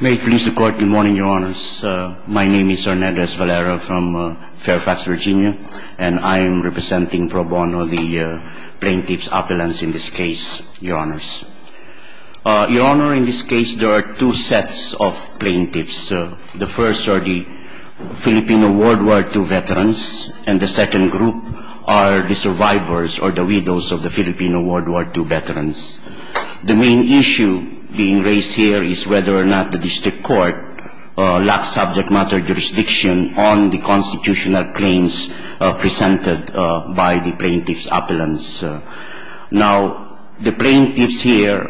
May it please the Court good morning, Your Honors. My name is Hernandez Valera from Fairfax, Virginia, and I am representing Pro Bono, the plaintiff's appellants in this case, Your Honors. Your Honor, in this case there are two sets of plaintiffs. The first are the Filipino World War II veterans, and the second group are the survivors or the widows of the Filipino World War II veterans. The main issue being raised here is whether or not the district court lacks subject matter jurisdiction on the constitutional claims presented by the plaintiff's appellants. Now, the plaintiffs here,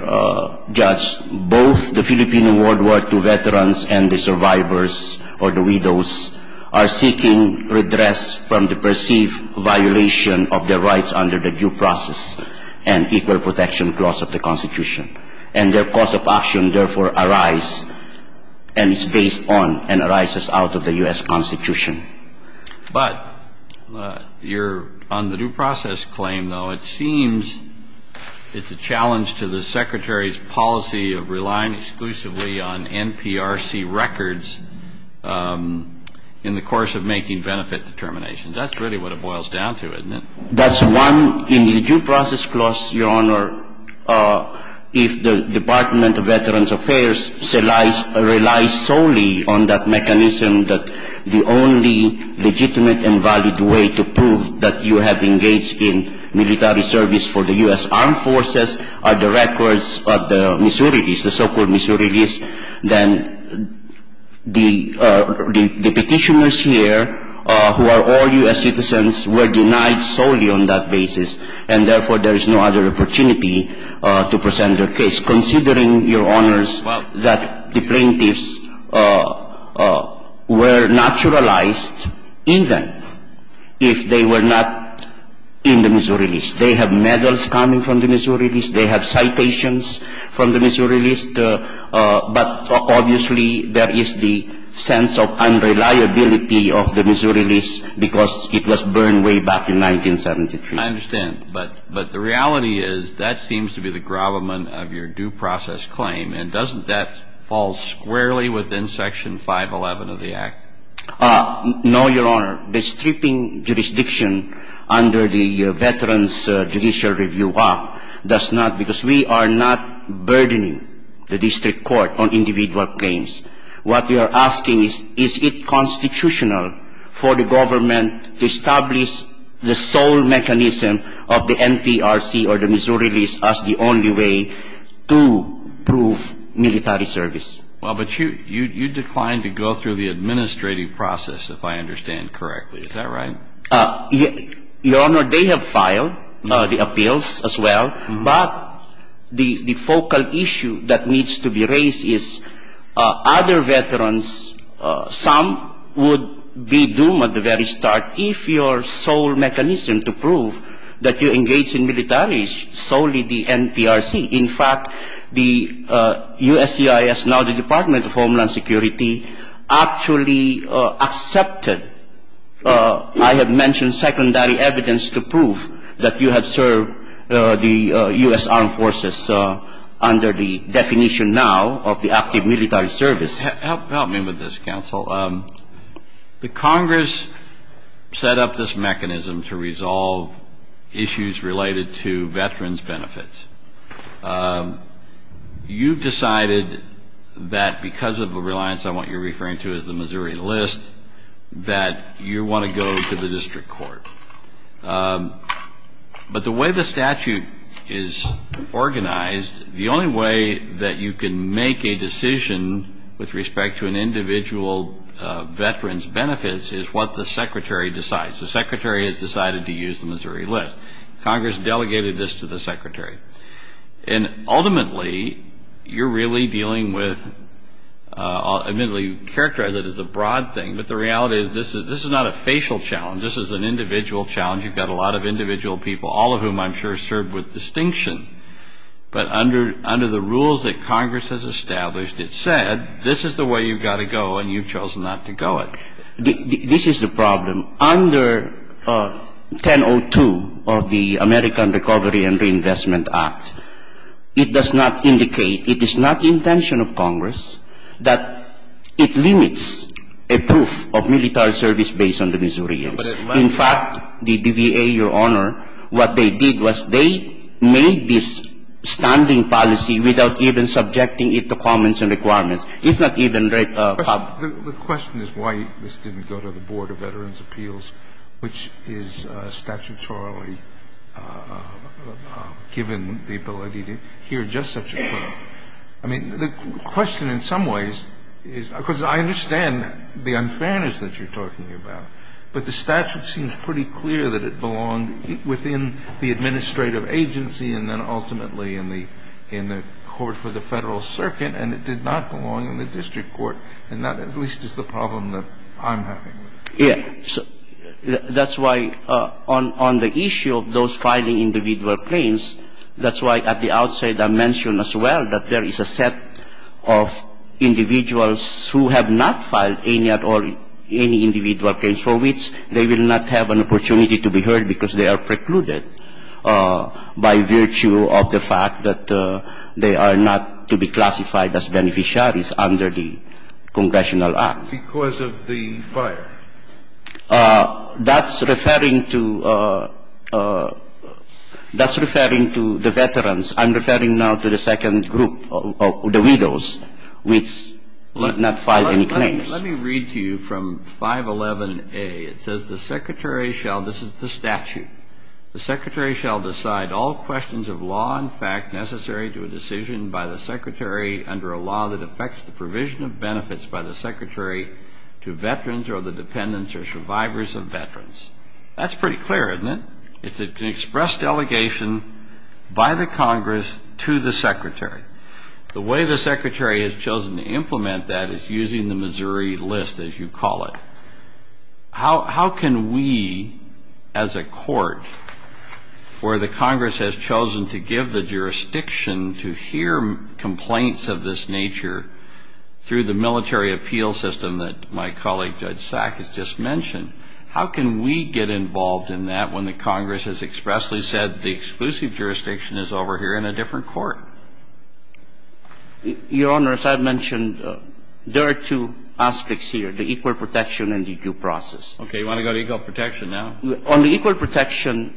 Judge, both the Filipino World War II veterans and the survivors or the widows are seeking redress from the perceived violation of their rights under the due process and equal protection clause of the Constitution. And their cause of action, therefore, arise and is based on and arises out of the U.S. Constitution. But your on the due process claim, though, it seems it's a challenge to the Secretary's policy of relying exclusively on NPRC records in the course of making benefit determinations. That's really what it boils down to, isn't it? That's one. In the due process clause, Your Honor, if the Department of Veterans Affairs relies solely on that mechanism that the only legitimate and valid way to prove that you have engaged in military service for the U.S. Armed Forces are the records of the Missouri lease, the so-called Missouri lease, then the petitioners here who are all U.S. citizens were denied solely on that basis, and therefore, there is no other opportunity to present their case, considering, Your Honors, that the plaintiffs were naturalized in them if they were not in the Missouri lease. They have medals coming from the Missouri lease. They have citations from the Missouri lease. But obviously, there is the sense of unreliability of the Missouri lease because it was burned way back in 1973. I understand. But the reality is that seems to be the gravamen of your due process claim, and doesn't that fall squarely within Section 511 of the Act? No, Your Honor. The stripping jurisdiction under the Veterans Judicial Review Act does not, because we are not burdening the district court on individual claims. What we are asking is, is it constitutional for the government to establish the sole mechanism of the NPRC or the Missouri lease as the only way to prove military service? Well, but you declined to go through the administrative process, if I understand correctly. Is that right? Your Honor, they have filed the appeals as well, but the focal issue that needs to be raised is other veterans, some would be doomed at the very start if your sole mechanism to prove that you engage in military is solely the NPRC. In fact, the USCIS, now the Department of Homeland Security, actually accepted, I have mentioned, secondary evidence to prove that you have served the U.S. Armed Forces under the definition now of the active military service. Please help me with this, counsel. The Congress set up this mechanism to resolve issues related to veterans' benefits. You decided that because of a reliance on what you're referring to as the Missouri list, that you want to go to the district court. But the way the statute is organized, the only way that you can make a decision with respect to an individual veteran's benefits is what the Secretary decides. The Secretary has decided to use the Missouri list. Congress delegated this to the Secretary. And ultimately, you're really dealing with, admittedly you characterize it as a broad thing, but the reality is this is not a facial challenge. This is an individual challenge. You've got a lot of individual people, all of whom I'm sure served with distinction. But under the rules that Congress has established, it said this is the way you've got to go and you've chosen not to go it. This is the problem. Under 1002 of the American Recovery and Reinvestment Act, it does not indicate, it is not the intention of Congress, that it limits a proof of military service based on the Missourians. In fact, the DBA, Your Honor, what they did was they made this standing policy without even subjecting it to comments and requirements. It's not even a problem. The question is why this didn't go to the Board of Veterans' Appeals, which is statutorily given the ability to hear just such a claim. I mean, the question in some ways is, because I understand the unfairness that you're talking about, but the statute seems pretty clear that it belonged within the administrative agency and then ultimately in the court for the Federal Circuit, and it did not belong in the district court. And that at least is the problem that I'm having. Yes. That's why on the issue of those filing individual claims, that's why at the outset I mentioned as well that there is a set of individuals who have not filed any at all, any individual claims for which they will not have an opportunity to be heard because they are precluded by virtue of the fact that they are not to be classified as beneficiaries under the Congressional Act. Because of the fire. That's referring to the veterans. I'm referring now to the second group, the widows, which did not file any claims. Let me read to you from 511A. It says the Secretary shall, this is the statute, the Secretary shall decide all questions of law and fact necessary to a decision by the Secretary under a law that affects the provision of benefits by the Secretary to veterans or the dependents or survivors of veterans. That's pretty clear, isn't it? It's an express delegation by the Congress to the Secretary. The way the Secretary has chosen to implement that is using the Missouri list, as you call it. Your Honor, as I mentioned, there are two aspects here, the equal protection and the duplication. And the duplication is a process. Okay. Do you want to go to equal protection now? On the equal protection,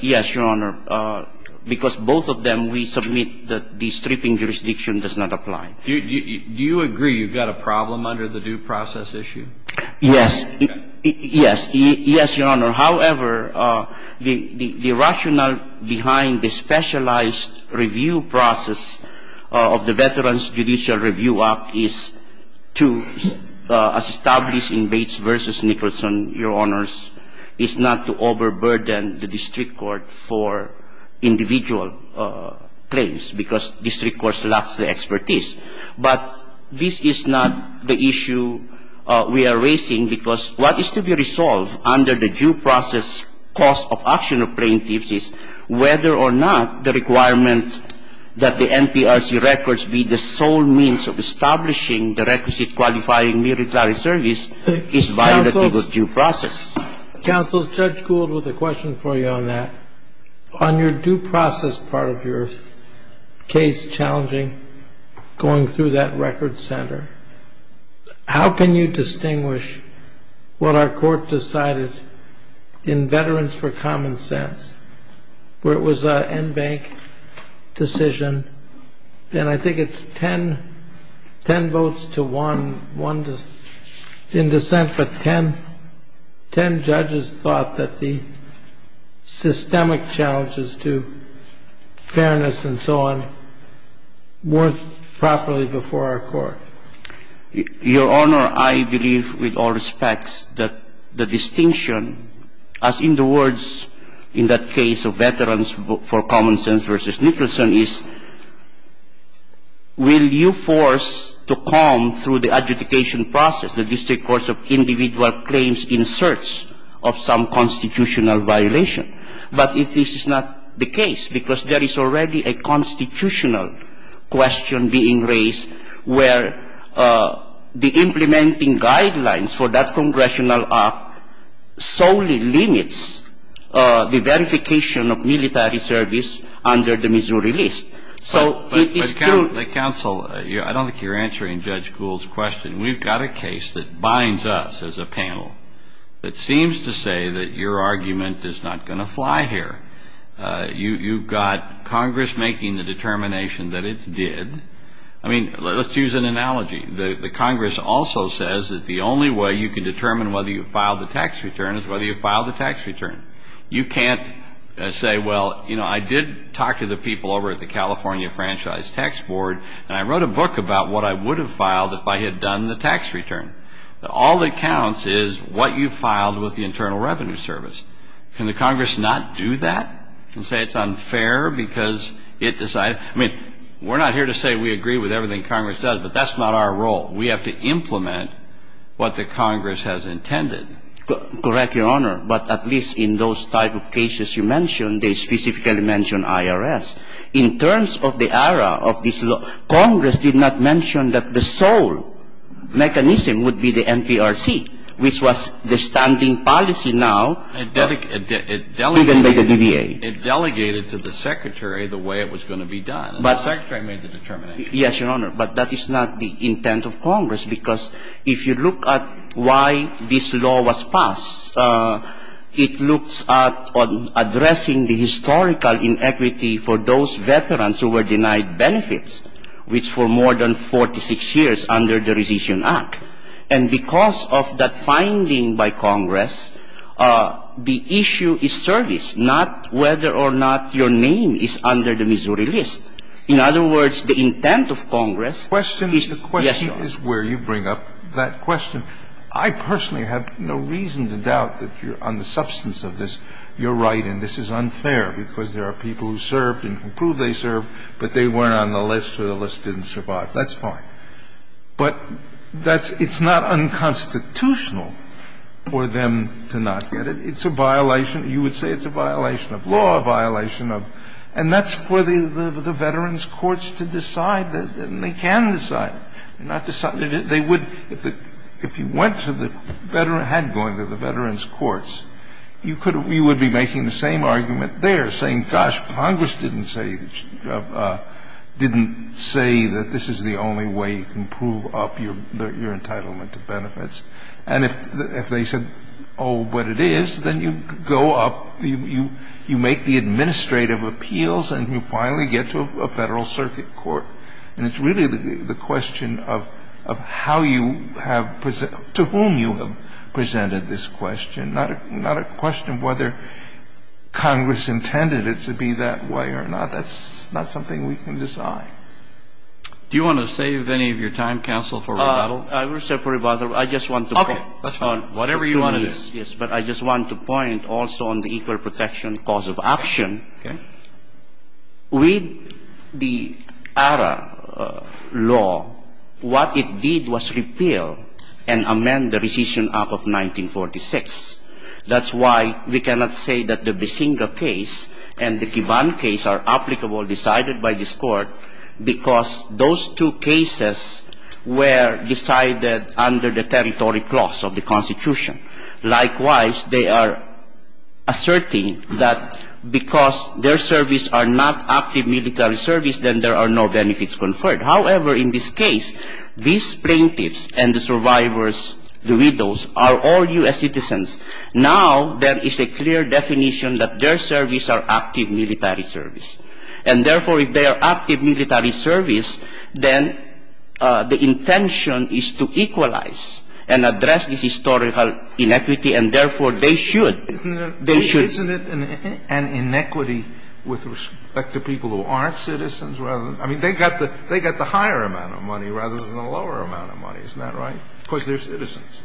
yes, Your Honor, because both of them we submit that the stripping jurisdiction does not apply. Do you agree you've got a problem under the due process issue? Yes. Yes. Yes, Your Honor. However, the rationale behind the specialized review process of the Veterans Judicial Review Act is to, as established in Bates v. Nicholson, Your Honors, is not to overburden the district court for individual claims because district courts lack the expertise. But this is not the issue we are raising because what is to be resolved under the due process cost of action of plaintiffs is whether or not the requirement that the NPRC records be the sole means of establishing the requisite qualifying military service is violated with due process. Counsel, Judge Gould has a question for you on that. On your due process part of your case challenging going through that record center, how can you distinguish what our court decided in Veterans for Common Sense, where it was an NBANC decision, and I think it's 10 votes to 1 in dissent, but 10 judges thought that the systemic challenges to fairness and so on weren't properly before our court. Your Honor, I believe with all respects that the distinction, as in the words in that case of Veterans for Common Sense v. Nicholson, is will you force to come through the adjudication process the district courts of individual claims in search of some constitutional violation, but this is not the case because there is already a constitutional question being raised where the implementing guidelines for that congressional act solely limits the verification of military service under the Missouri List. So it's true. But, Counsel, I don't think you're answering Judge Gould's question. We've got a case that binds us as a panel that seems to say that your argument is not going to fly here. You've got Congress making the determination that it did. I mean, let's use an analogy. The Congress also says that the only way you can determine whether you filed a tax return is whether you filed a tax return. You can't say, well, you know, I did talk to the people over at the California Franchise Tax Board, and I wrote a book about what I would have filed if I had done the tax return. All that counts is what you filed with the Internal Revenue Service. Can the Congress not do that and say it's unfair because it decided? I mean, we're not here to say we agree with everything Congress does, but that's not our role. We have to implement what the Congress has intended. Correct, Your Honor. But at least in those type of cases you mentioned, they specifically mentioned IRS. In terms of the era of this law, Congress did not mention that the sole mechanism would be the NPRC, which was the standing policy now. It delegated to the Secretary the way it was going to be done. The Secretary made the determination. Yes, Your Honor. But that is not the intent of Congress, because if you look at why this law was passed, it looks at addressing the historical inequity for those veterans who were denied benefits, which for more than 46 years under the Rescission Act. And because of that finding by Congress, the issue is service, not whether or not your name is under the Missouri list. In other words, the intent of Congress is, yes, Your Honor. The question is where you bring up that question. I personally have no reason to doubt that you're on the substance of this. You're right, and this is unfair, because there are people who served and who proved they served, but they weren't on the list or the list didn't survive. That's fine. But that's not unconstitutional for them to not get it. It's a violation. You would say it's a violation of law, a violation of law. And if you went to the veterans courts to decide, then they can decide. They're not deciding. They would, if you went to the veterans, had gone to the veterans courts, you would be making the same argument there, saying, gosh, Congress didn't say that this is the only way you can prove up your entitlement to benefits. And if they said, oh, but it is, then you go up, you make the administrative appeals, and you finally get to a Federal Circuit court. And it's really the question of how you have to whom you have presented this question, not a question of whether Congress intended it to be that way or not. That's not something we can decide. Do you want to save any of your time, counsel, for rebuttal? I will save for rebuttal. I just want to point. Okay. That's fine. Whatever you want to do. Yes. But I just want to point also on the equal protection cause of action. Okay. With the ARA law, what it did was repeal and amend the rescission act of 1946. That's why we cannot say that the Bisinga case and the Kivan case are applicable, decided by this Court, because those two cases were decided under the territory clause of the Constitution. Likewise, they are asserting that because their service are not active military service, then there are no benefits conferred. However, in this case, these plaintiffs and the survivors, the widows, are all U.S. citizens. Now there is a clear definition that their service are active military service. And, therefore, if they are active military service, then the intention is to equalize and address this historical inequity, and, therefore, they should. Isn't it an inequity with respect to people who aren't citizens? I mean, they got the higher amount of money rather than the lower amount of money. Isn't that right? Because they're citizens.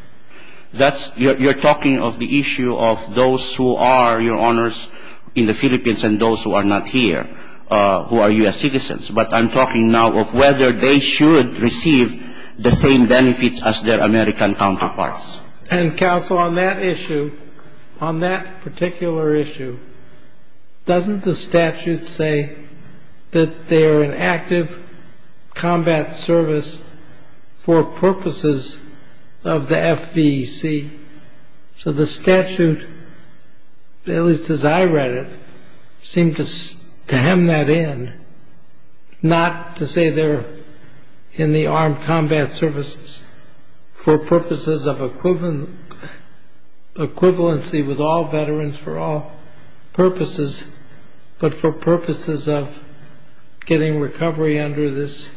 That's you're talking of the issue of those who are, Your Honors, in the Philippines and those who are not here who are U.S. citizens. But I'm talking now of whether they should receive the same benefits as their American counterparts. And, Counsel, on that issue, on that particular issue, doesn't the statute say that they're an active combat service for purposes of the FVC? So the statute, at least as I read it, seemed to hem that in, not to say they're in the armed combat services for purposes of equivalency with all veterans for all purposes, but for purposes of getting recovery under this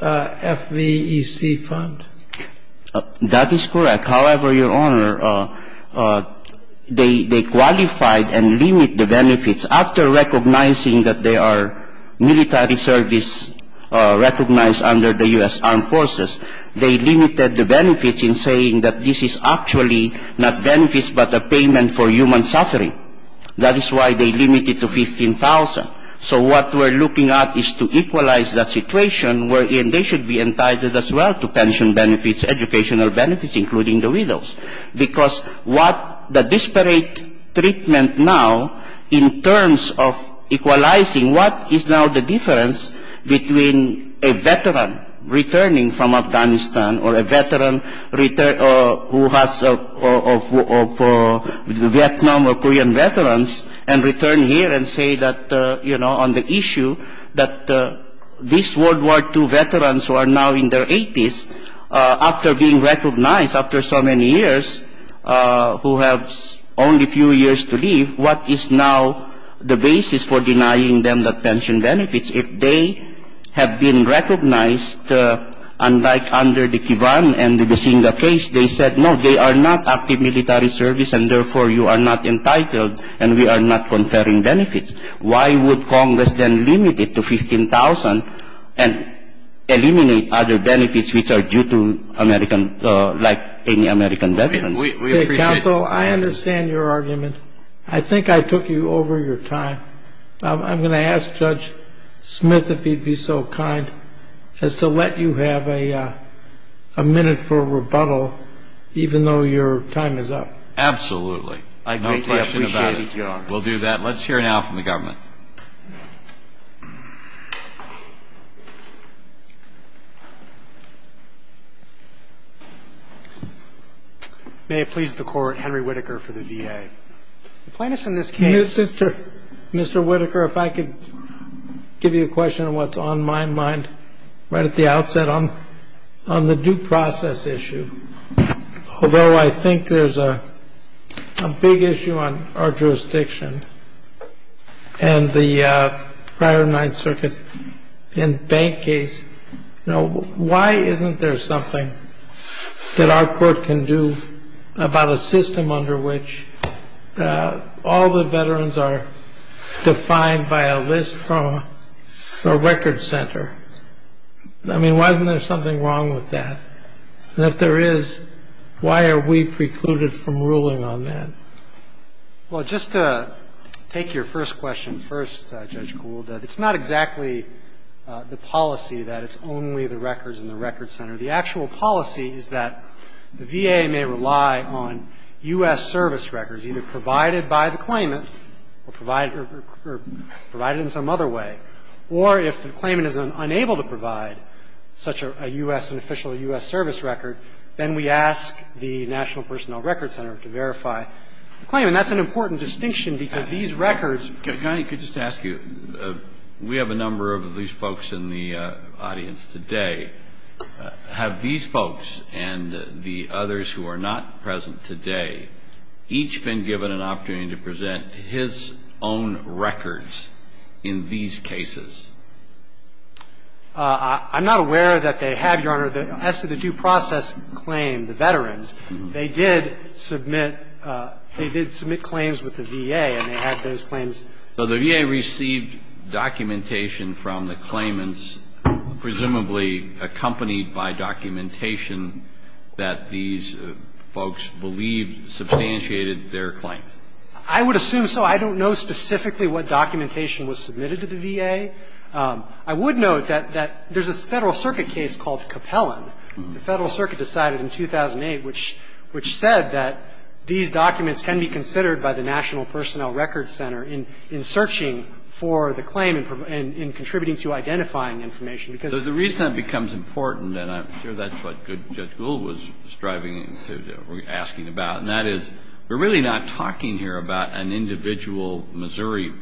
FVEC fund. That is correct. However, Your Honor, they qualified and limit the benefits. After recognizing that they are military service recognized under the U.S. Armed Forces, they limited the benefits in saying that this is actually not benefits but a payment for human suffering. That is why they limit it to $15,000. So what we're looking at is to equalize that situation. And they should be entitled as well to pension benefits, educational benefits, including the widows. Because what the disparate treatment now in terms of equalizing what is now the difference between a veteran returning from Afghanistan or a veteran who has Vietnam or Korean veterans and return here and say that, you know, on the issue that these World War II veterans who are now in their 80s, after being recognized after so many years, who have only a few years to live, what is now the basis for denying them the pension benefits if they have been recognized unlike under the Kivan and the Besinga case, they said, no, they are not active military service and therefore you are not entitled and we are not conferring benefits. Why would Congress then limit it to $15,000 and eliminate other benefits which are due to American like any American veteran? We appreciate it. Counsel, I understand your argument. I think I took you over your time. I'm going to ask Judge Smith if he'd be so kind as to let you have a minute for rebuttal, even though your time is up. Absolutely. I greatly appreciate it, Your Honor. We'll do that. Let's hear now from the government. May it please the Court, Henry Whitaker for the VA. The plaintiffs in this case Mr. Whitaker, if I could give you a question on what's on my mind right at the outset on the due process issue. Although I think there's a big issue on our jurisdiction and the prior Ninth Circuit and bank case, why isn't there something that our court can do about a system under which all the veterans are defined by a list from a record center? I mean, why isn't there something wrong with that? And if there is, why are we precluded from ruling on that? Well, just to take your first question first, Judge Gould, it's not exactly the policy that it's only the records in the record center. The actual policy is that the VA may rely on U.S. service records either provided by the claimant or provided in some other way, or if the claimant is unable to provide such a U.S., an official U.S. service record, then we ask the National Personnel Records Center to verify the claim. And that's an important distinction, because these records. Can I just ask you, we have a number of these folks in the audience today. Have these folks and the others who are not present today each been given an opportunity to present his own records in these cases? I'm not aware that they have, Your Honor. As to the due process claim, the veterans, they did submit claims with the VA, and they had those claims. So the VA received documentation from the claimants, presumably accompanied by documentation that these folks believed substantiated their claim. I would assume so. I don't know specifically what documentation was submitted to the VA. I would note that there's a Federal Circuit case called Capellan. The Federal Circuit decided in 2008, which said that these documents can be considered by the National Personnel Records Center in searching for the claim and contributing to identifying information. So the reason that becomes important, and I'm sure that's what Judge Gould was asking about, and that is, we're really not talking here about an individual Missouri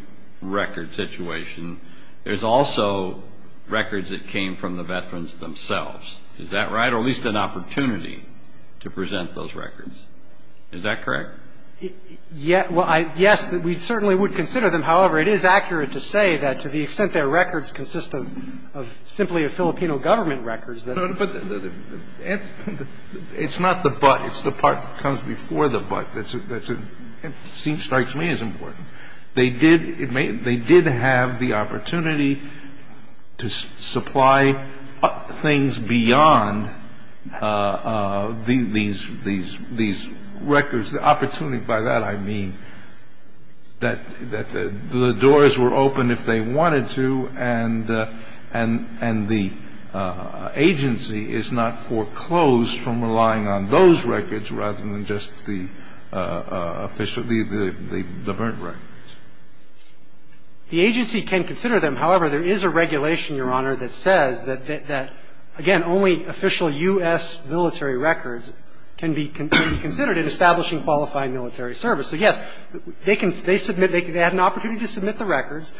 record situation. There's also records that came from the veterans themselves. Is that right? Or at least an opportunity to present those records. Is that correct? Yes, we certainly would consider them. However, it is accurate to say that to the extent their records consist of simply a Filipino government record. It's not the but. It's the part that comes before the but. It seems, strikes me, as important. They did have the opportunity to supply things beyond these records. The agency can consider them. However, there is a regulation, Your Honor, that says that, again, only official U.S. military records can be considered in establishing U.S. military records. The agency can consider them. So, yes, they can submit, they had an opportunity to submit the records.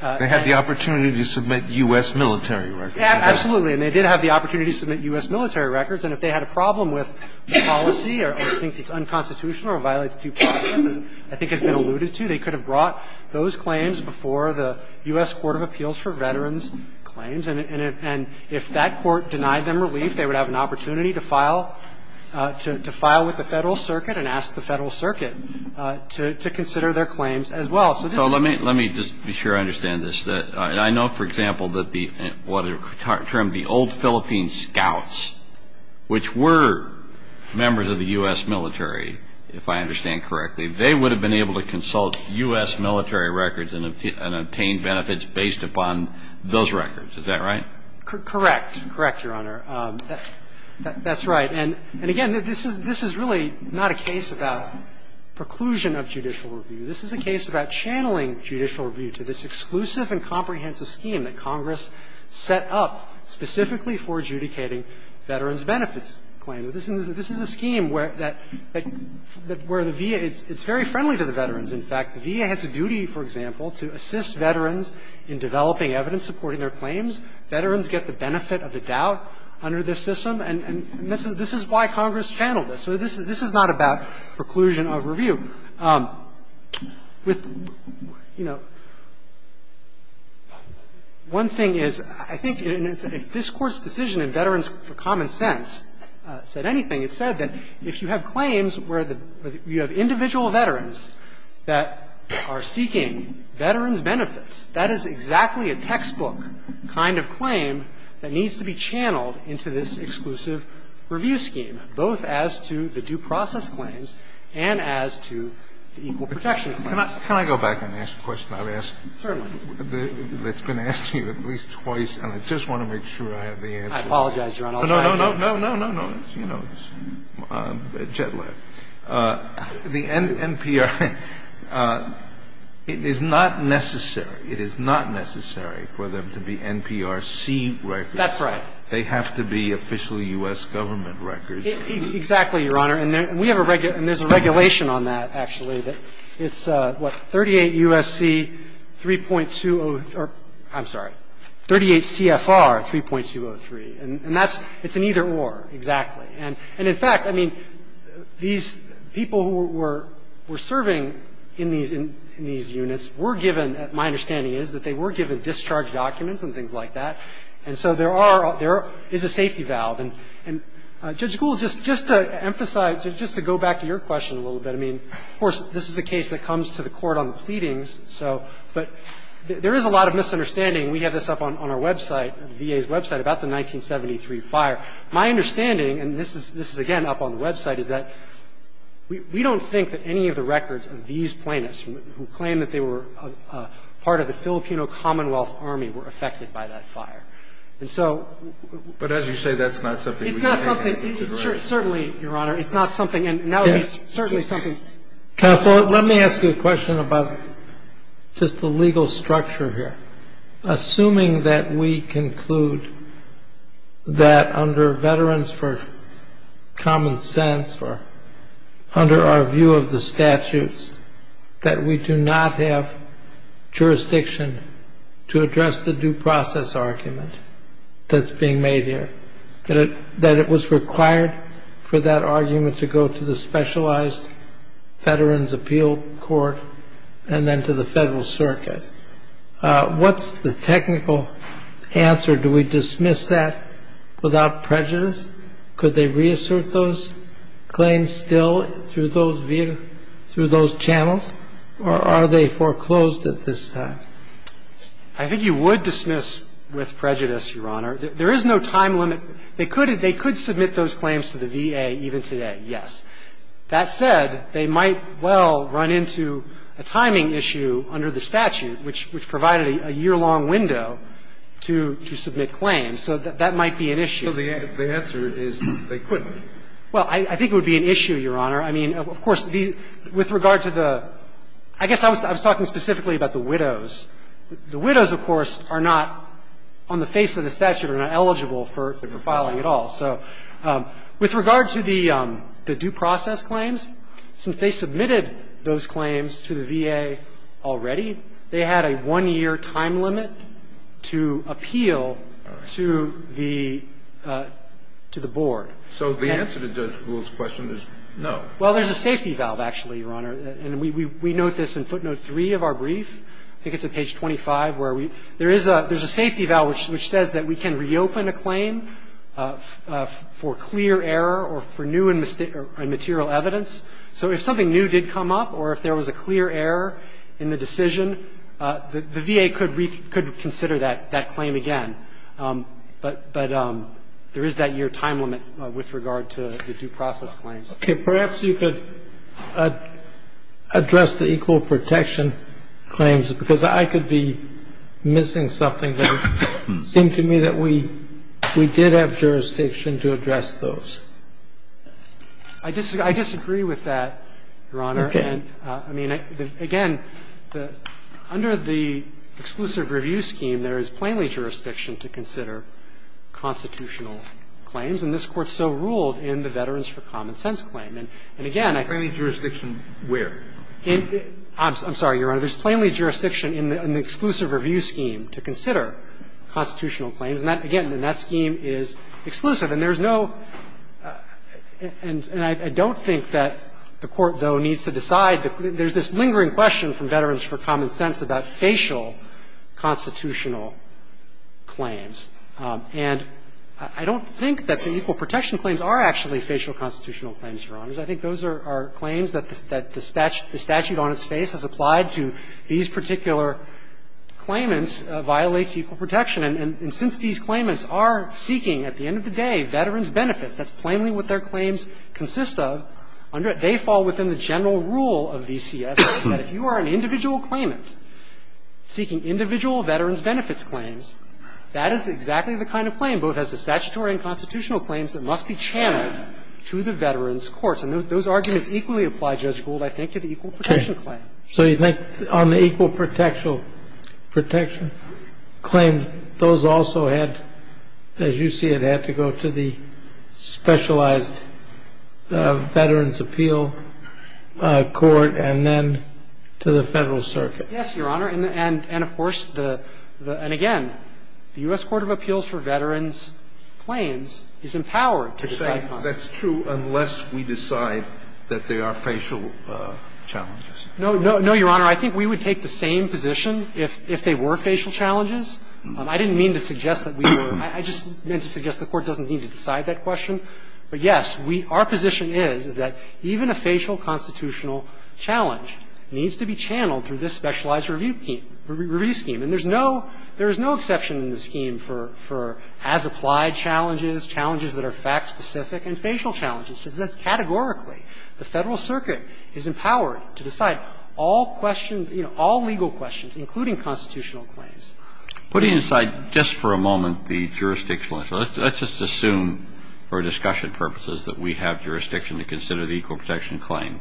They had the opportunity to submit U.S. military records. Absolutely. And they did have the opportunity to submit U.S. military records. And if they had a problem with the policy or think it's unconstitutional or violates due process, as I think has been alluded to, they could have brought those claims before the U.S. Court of Appeals for Veterans Claims. And if that court denied them relief, they would have an opportunity to file, to file with the Federal Circuit and ask the Federal Circuit to consider their claims as well. So let me just be sure I understand this. I know, for example, that the old Philippine scouts, which were members of the U.S. military, if I understand correctly, they would have been able to consult U.S. military records and obtain benefits based upon those records. Is that right? Correct. Correct, Your Honor. That's right. And again, this is really not a case about preclusion of judicial review. This is a case about channeling judicial review to this exclusive and comprehensive scheme that Congress set up specifically for adjudicating veterans' benefits claims. This is a scheme where the VA, it's very friendly to the veterans, in fact. The VA has a duty, for example, to assist veterans in developing evidence supporting their claims. Veterans get the benefit of the doubt under this system. And this is why Congress channeled this. So this is not about preclusion of review. With, you know, one thing is, I think if this Court's decision in Veterans for Common Sense said anything, it said that if you have claims where you have individual veterans that are seeking veterans' benefits, that is exactly a textbook kind of claim that needs to be channeled into this exclusive review scheme, both as to the due process claims and as to the equal protection claims. Can I go back and ask a question? Certainly. I've asked, it's been asked to you at least twice, and I just want to make sure I have the answer. I apologize, Your Honor, I'll try again. No, no, no, no, no, no, no. You know this. Jet lag. There's no set record? Yes. There's no state record? That's right. There's no state record. They have to be officially U.S. government records. Exactly, Your Honor. And there's a regulation on that, actually, that it's, what, 38 U.S.C., 3.203 or, I'm sorry, 38 CFR 3.203, and that's an either or, exactly. And, in fact, I mean, these people who were serving in these units were given, my understanding is that they were given discharge documents and things like that, and so there is a safety valve. And, Judge Gould, just to emphasize, just to go back to your question a little bit, I mean, of course, this is a case that comes to the court on the pleadings, but there is a lot of misunderstanding. We have this up on our website, the VA's website, about the 1973 fire. My understanding, and this is, again, up on the website, is that we don't think that any of the records of these plaintiffs who claim that they were part of the Filipino Commonwealth Army were affected by that fire. And so we don't think that's something we can disagree on. But as you say, that's not something we can disagree on. It's not something, certainly, Your Honor. It's not something, and that would be certainly something. Counsel, let me ask you a question about just the legal structure here. Assuming that we conclude that under Veterans for Common Sense, or under our view of the statutes, that we do not have jurisdiction to address the due process argument that's being made here, that it was required for that argument to go to the Specialized Veterans Appeal Court and then to the Federal Circuit, what's the technical answer? Do we dismiss that without prejudice? Could they reassert those claims still through those channels, or are they foreclosed at this time? I think you would dismiss with prejudice, Your Honor. There is no time limit. They could submit those claims to the VA even today, yes. That said, they might well run into a timing issue under the statute, which provided a year-long window to submit claims. So that might be an issue. So the answer is they couldn't. Well, I think it would be an issue, Your Honor. I mean, of course, with regard to the – I guess I was talking specifically about the widows. The widows, of course, are not, on the face of the statute, are not eligible for filing at all. So with regard to the due process claims, since they submitted those claims to the VA already, they had a one-year time limit to appeal to the board. So the answer to Judge Gould's question is no. Well, there's a safety valve, actually, Your Honor. And we note this in footnote 3 of our brief. I think it's at page 25, where we – there is a safety valve which says that we can reopen a claim for clear error or for new and material evidence. So if something new did come up or if there was a clear error in the decision, the VA could reconsider that claim again. But there is that year time limit with regard to the due process claims. Okay. Perhaps you could address the equal protection claims, because I could be missing something there. It seemed to me that we did have jurisdiction to address those. I disagree with that, Your Honor. Okay. I mean, again, under the exclusive review scheme, there is plainly jurisdiction to consider constitutional claims, and this Court so ruled in the Veterans for Common Sense claim. And again, I think that's the case. Plainly jurisdiction where? I'm sorry, Your Honor. There's plainly jurisdiction in the exclusive review scheme to consider constitutional claims, and that, again, in that scheme is exclusive. And there's no – and I don't think that the Court, though, needs to decide. There's this lingering question from Veterans for Common Sense about facial constitutional claims. And I don't think that the equal protection claims are actually facial constitutional claims, Your Honors. I think those are claims that the statute on its face has applied to these particular claimants, violates equal protection. And since these claimants are seeking, at the end of the day, veterans' benefits, that's plainly what their claims consist of, they fall within the general rule of VCS that if you are an individual claimant seeking individual veterans' benefits claims, that is exactly the kind of claim, both as a statutory and constitutional claim, that must be channeled to the veterans' courts. And those arguments equally apply, Judge Gould, I think, to the equal protection claim. So you think on the equal protection claims, those also had, as you see it, had to go to the specialized veterans' appeal court and then to the Federal Circuit? Yes, Your Honor, and of course, the – and again, the U.S. Court of Appeals for Veterans claims is empowered to decide. That's true unless we decide that they are facial challenges. No, no, Your Honor. I think we would take the same position if they were facial challenges. I didn't mean to suggest that we were – I just meant to suggest the Court doesn't need to decide that question. But, yes, we – our position is, is that even a facial constitutional challenge needs to be channeled through this specialized review scheme. And there's no – there is no exception in the scheme for – for as-applied challenges, challenges that are fact-specific, and facial challenges. It says categorically the Federal Circuit is empowered to decide all questions – you know, all legal questions, including constitutional claims. Putting aside, just for a moment, the jurisdictional issue, let's just assume for discussion purposes that we have jurisdiction to consider the equal protection claim.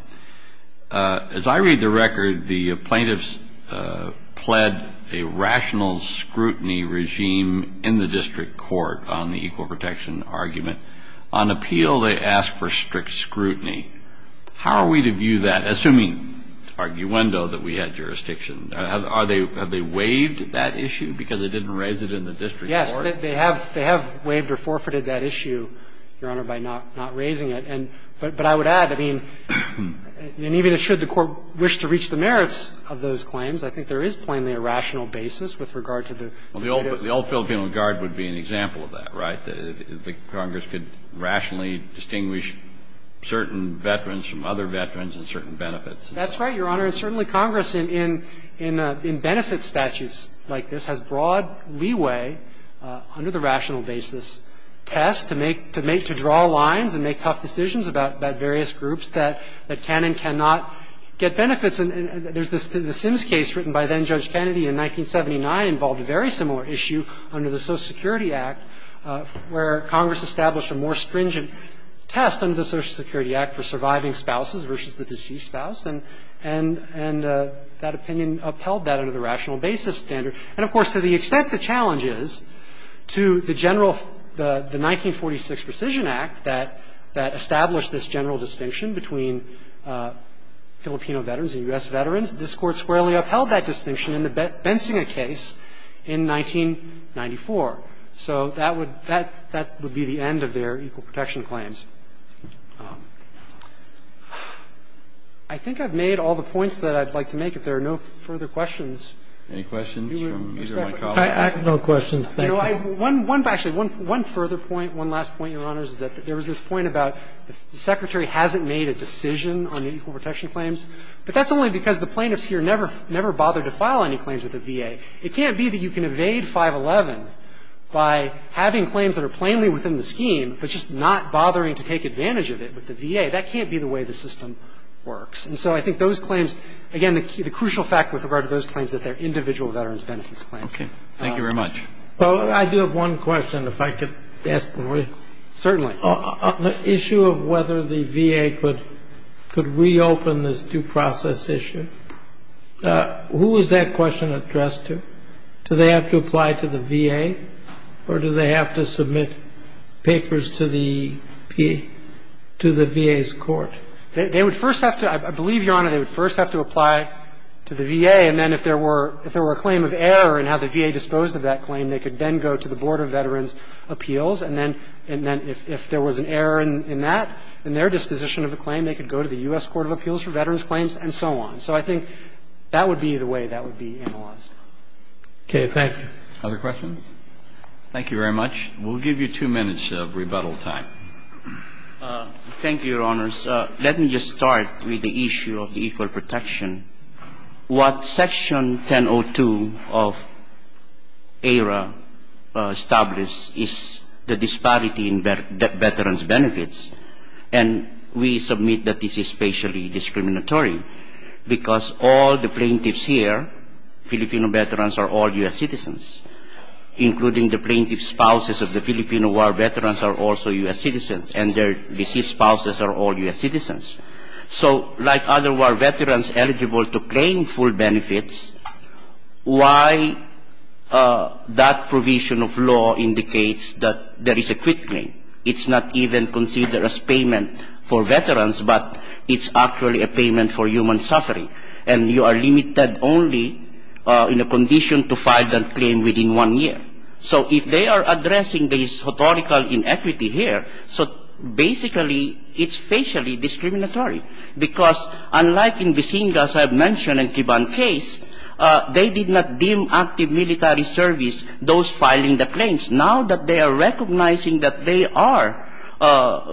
As I read the record, the plaintiffs pled a rational scrutiny regime in the district court on the equal protection argument. On appeal, they asked for strict scrutiny. How are we to view that, assuming arguendo that we had jurisdiction? Are they – have they waived that issue because they didn't raise it in the district court? Yes, they have – they have waived or forfeited that issue, Your Honor, by not – not raising it. And – but I would add, I mean, and even as should the Court wish to reach the merits of those claims, I think there is plainly a rational basis with regard to the plaintiffs' – Well, the old – the old Filipino Guard would be an example of that, right? The Congress could rationally distinguish certain veterans from other veterans and certain benefits. That's right, Your Honor. And certainly Congress in – in benefit statutes like this has broad leeway under the rational basis test to make – to make – to draw lines and make tough decisions about various groups that can and cannot get benefits. And there's this – the Sims case written by then-Judge Kennedy in 1979 involved a very similar issue under the Social Security Act, where Congress established a more stringent test under the Social Security Act for surviving spouses versus the deceased spouse, and that opinion upheld that under the rational basis standard. And, of course, to the extent the challenge is, to the general – the 1946 Precision Act that established this general distinction between Filipino veterans and U.S. veterans, this Court squarely upheld that distinction in the Bensinger case in 1994. So that would – that would be the end of their equal protection claims. I think I've made all the points that I'd like to make. Mr. Kramer, do you want to comment? I have no questions. Thank you. You know, I – one – actually, one further point, one last point, Your Honors, is that there was this point about the Secretary hasn't made a decision on the equal protection claims, but that's only because the plaintiffs here never – never bothered to file any claims with the VA. It can't be that you can evade 511 by having claims that are plainly within the scheme, but just not bothering to take advantage of it with the VA. That can't be the way the system works. And so I think those claims – again, the crucial fact with regard to those claims is that they're individual veterans' benefits claims. Okay. Thank you very much. Well, I do have one question, if I could ask one more. Certainly. On the issue of whether the VA could – could reopen this due process issue, who is that question addressed to? Do they have to apply to the VA, or do they have to submit papers to the VA's court? They would first have to – I believe, Your Honor, they would first have to apply to the VA, and then if there were – if there were a claim of error in how the VA disposed of that claim, they could then go to the Board of Veterans' Appeals. And then – and then if there was an error in that, in their disposition of the claim, they could go to the U.S. Court of Appeals for veterans' claims and so on. So I think that would be the way that would be analyzed. Okay. Thank you. Other questions? Thank you very much. We'll give you two minutes of rebuttal time. Thank you, Your Honors. Let me just start with the issue of equal protection. What Section 1002 of AERA established is the disparity in veterans' benefits, and we submit that this is facially discriminatory because all the plaintiffs here, Filipino veterans, are all U.S. citizens, including the plaintiff's spouses of the Filipino war veterans are also U.S. citizens, and their deceased spouses are all U.S. citizens. So like other war veterans eligible to claim full benefits, why that provision of law indicates that there is a quick claim? It's not even considered as payment for veterans, but it's actually a payment for human suffering. And you are limited only in a condition to file that claim within one year. So if they are addressing this historical inequity here, so basically it's facially discriminatory because unlike in Bisinga, as I've mentioned, and Kiban case, they did not deem active military service those filing the claims. Now that they are recognizing that they are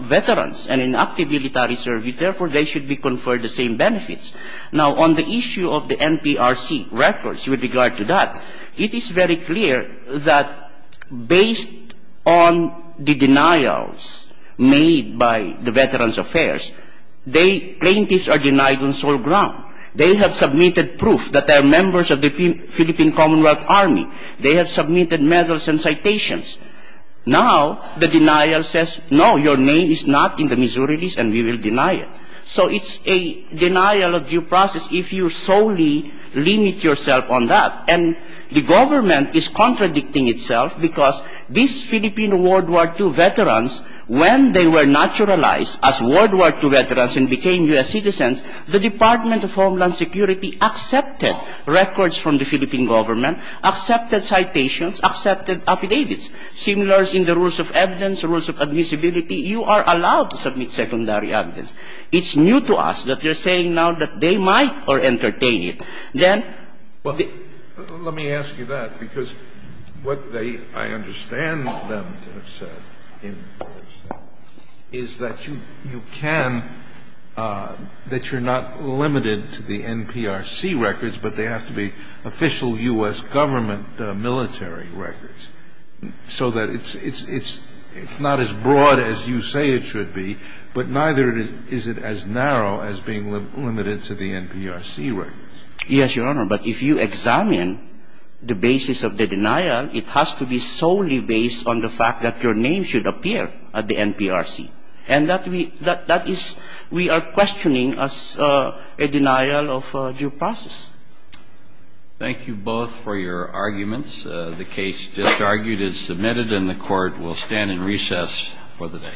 veterans and in active military service, therefore, they should be conferred the same benefits. Now on the issue of the NPRC records with regard to that, it is very clear that based on the denials made by the Veterans Affairs, they, plaintiffs are denied on sole ground. They have submitted proof that they are members of the Philippine Commonwealth Army. They have submitted medals and citations. Now the denial says, no, your name is not in the Missouri list and we will deny it. So it's a denial of due process if you solely limit yourself on that. And the government is contradicting itself because these Philippine World War II veterans, when they were naturalized as World War II veterans and became U.S. citizens, the Department of Homeland Security accepted records from the Philippine government, accepted citations, accepted affidavits. Similars in the rules of evidence, rules of admissibility, you are allowed to submit secondary evidence. It's new to us that you're saying now that they might or entertain it. Then the ---- Scalia Let me ask you that because what they, I understand them to have said in the course, is that you can, that you're not limited to the NPRC records, but they have to be official U.S. government military records, so that it's, it's, it's, it's not as broad as you say it should be, but neither is it as narrow as being limited to the NPRC records. Martinez Yes, Your Honor, but if you examine the basis of the denial, it has to be solely based on the fact that your name should appear at the NPRC. And that we, that is, we are questioning as a denial of due process. Kennedy Thank you both for your arguments. The case just argued is submitted and the Court will stand in recess for the day. Martinez Thank you, Your Honor.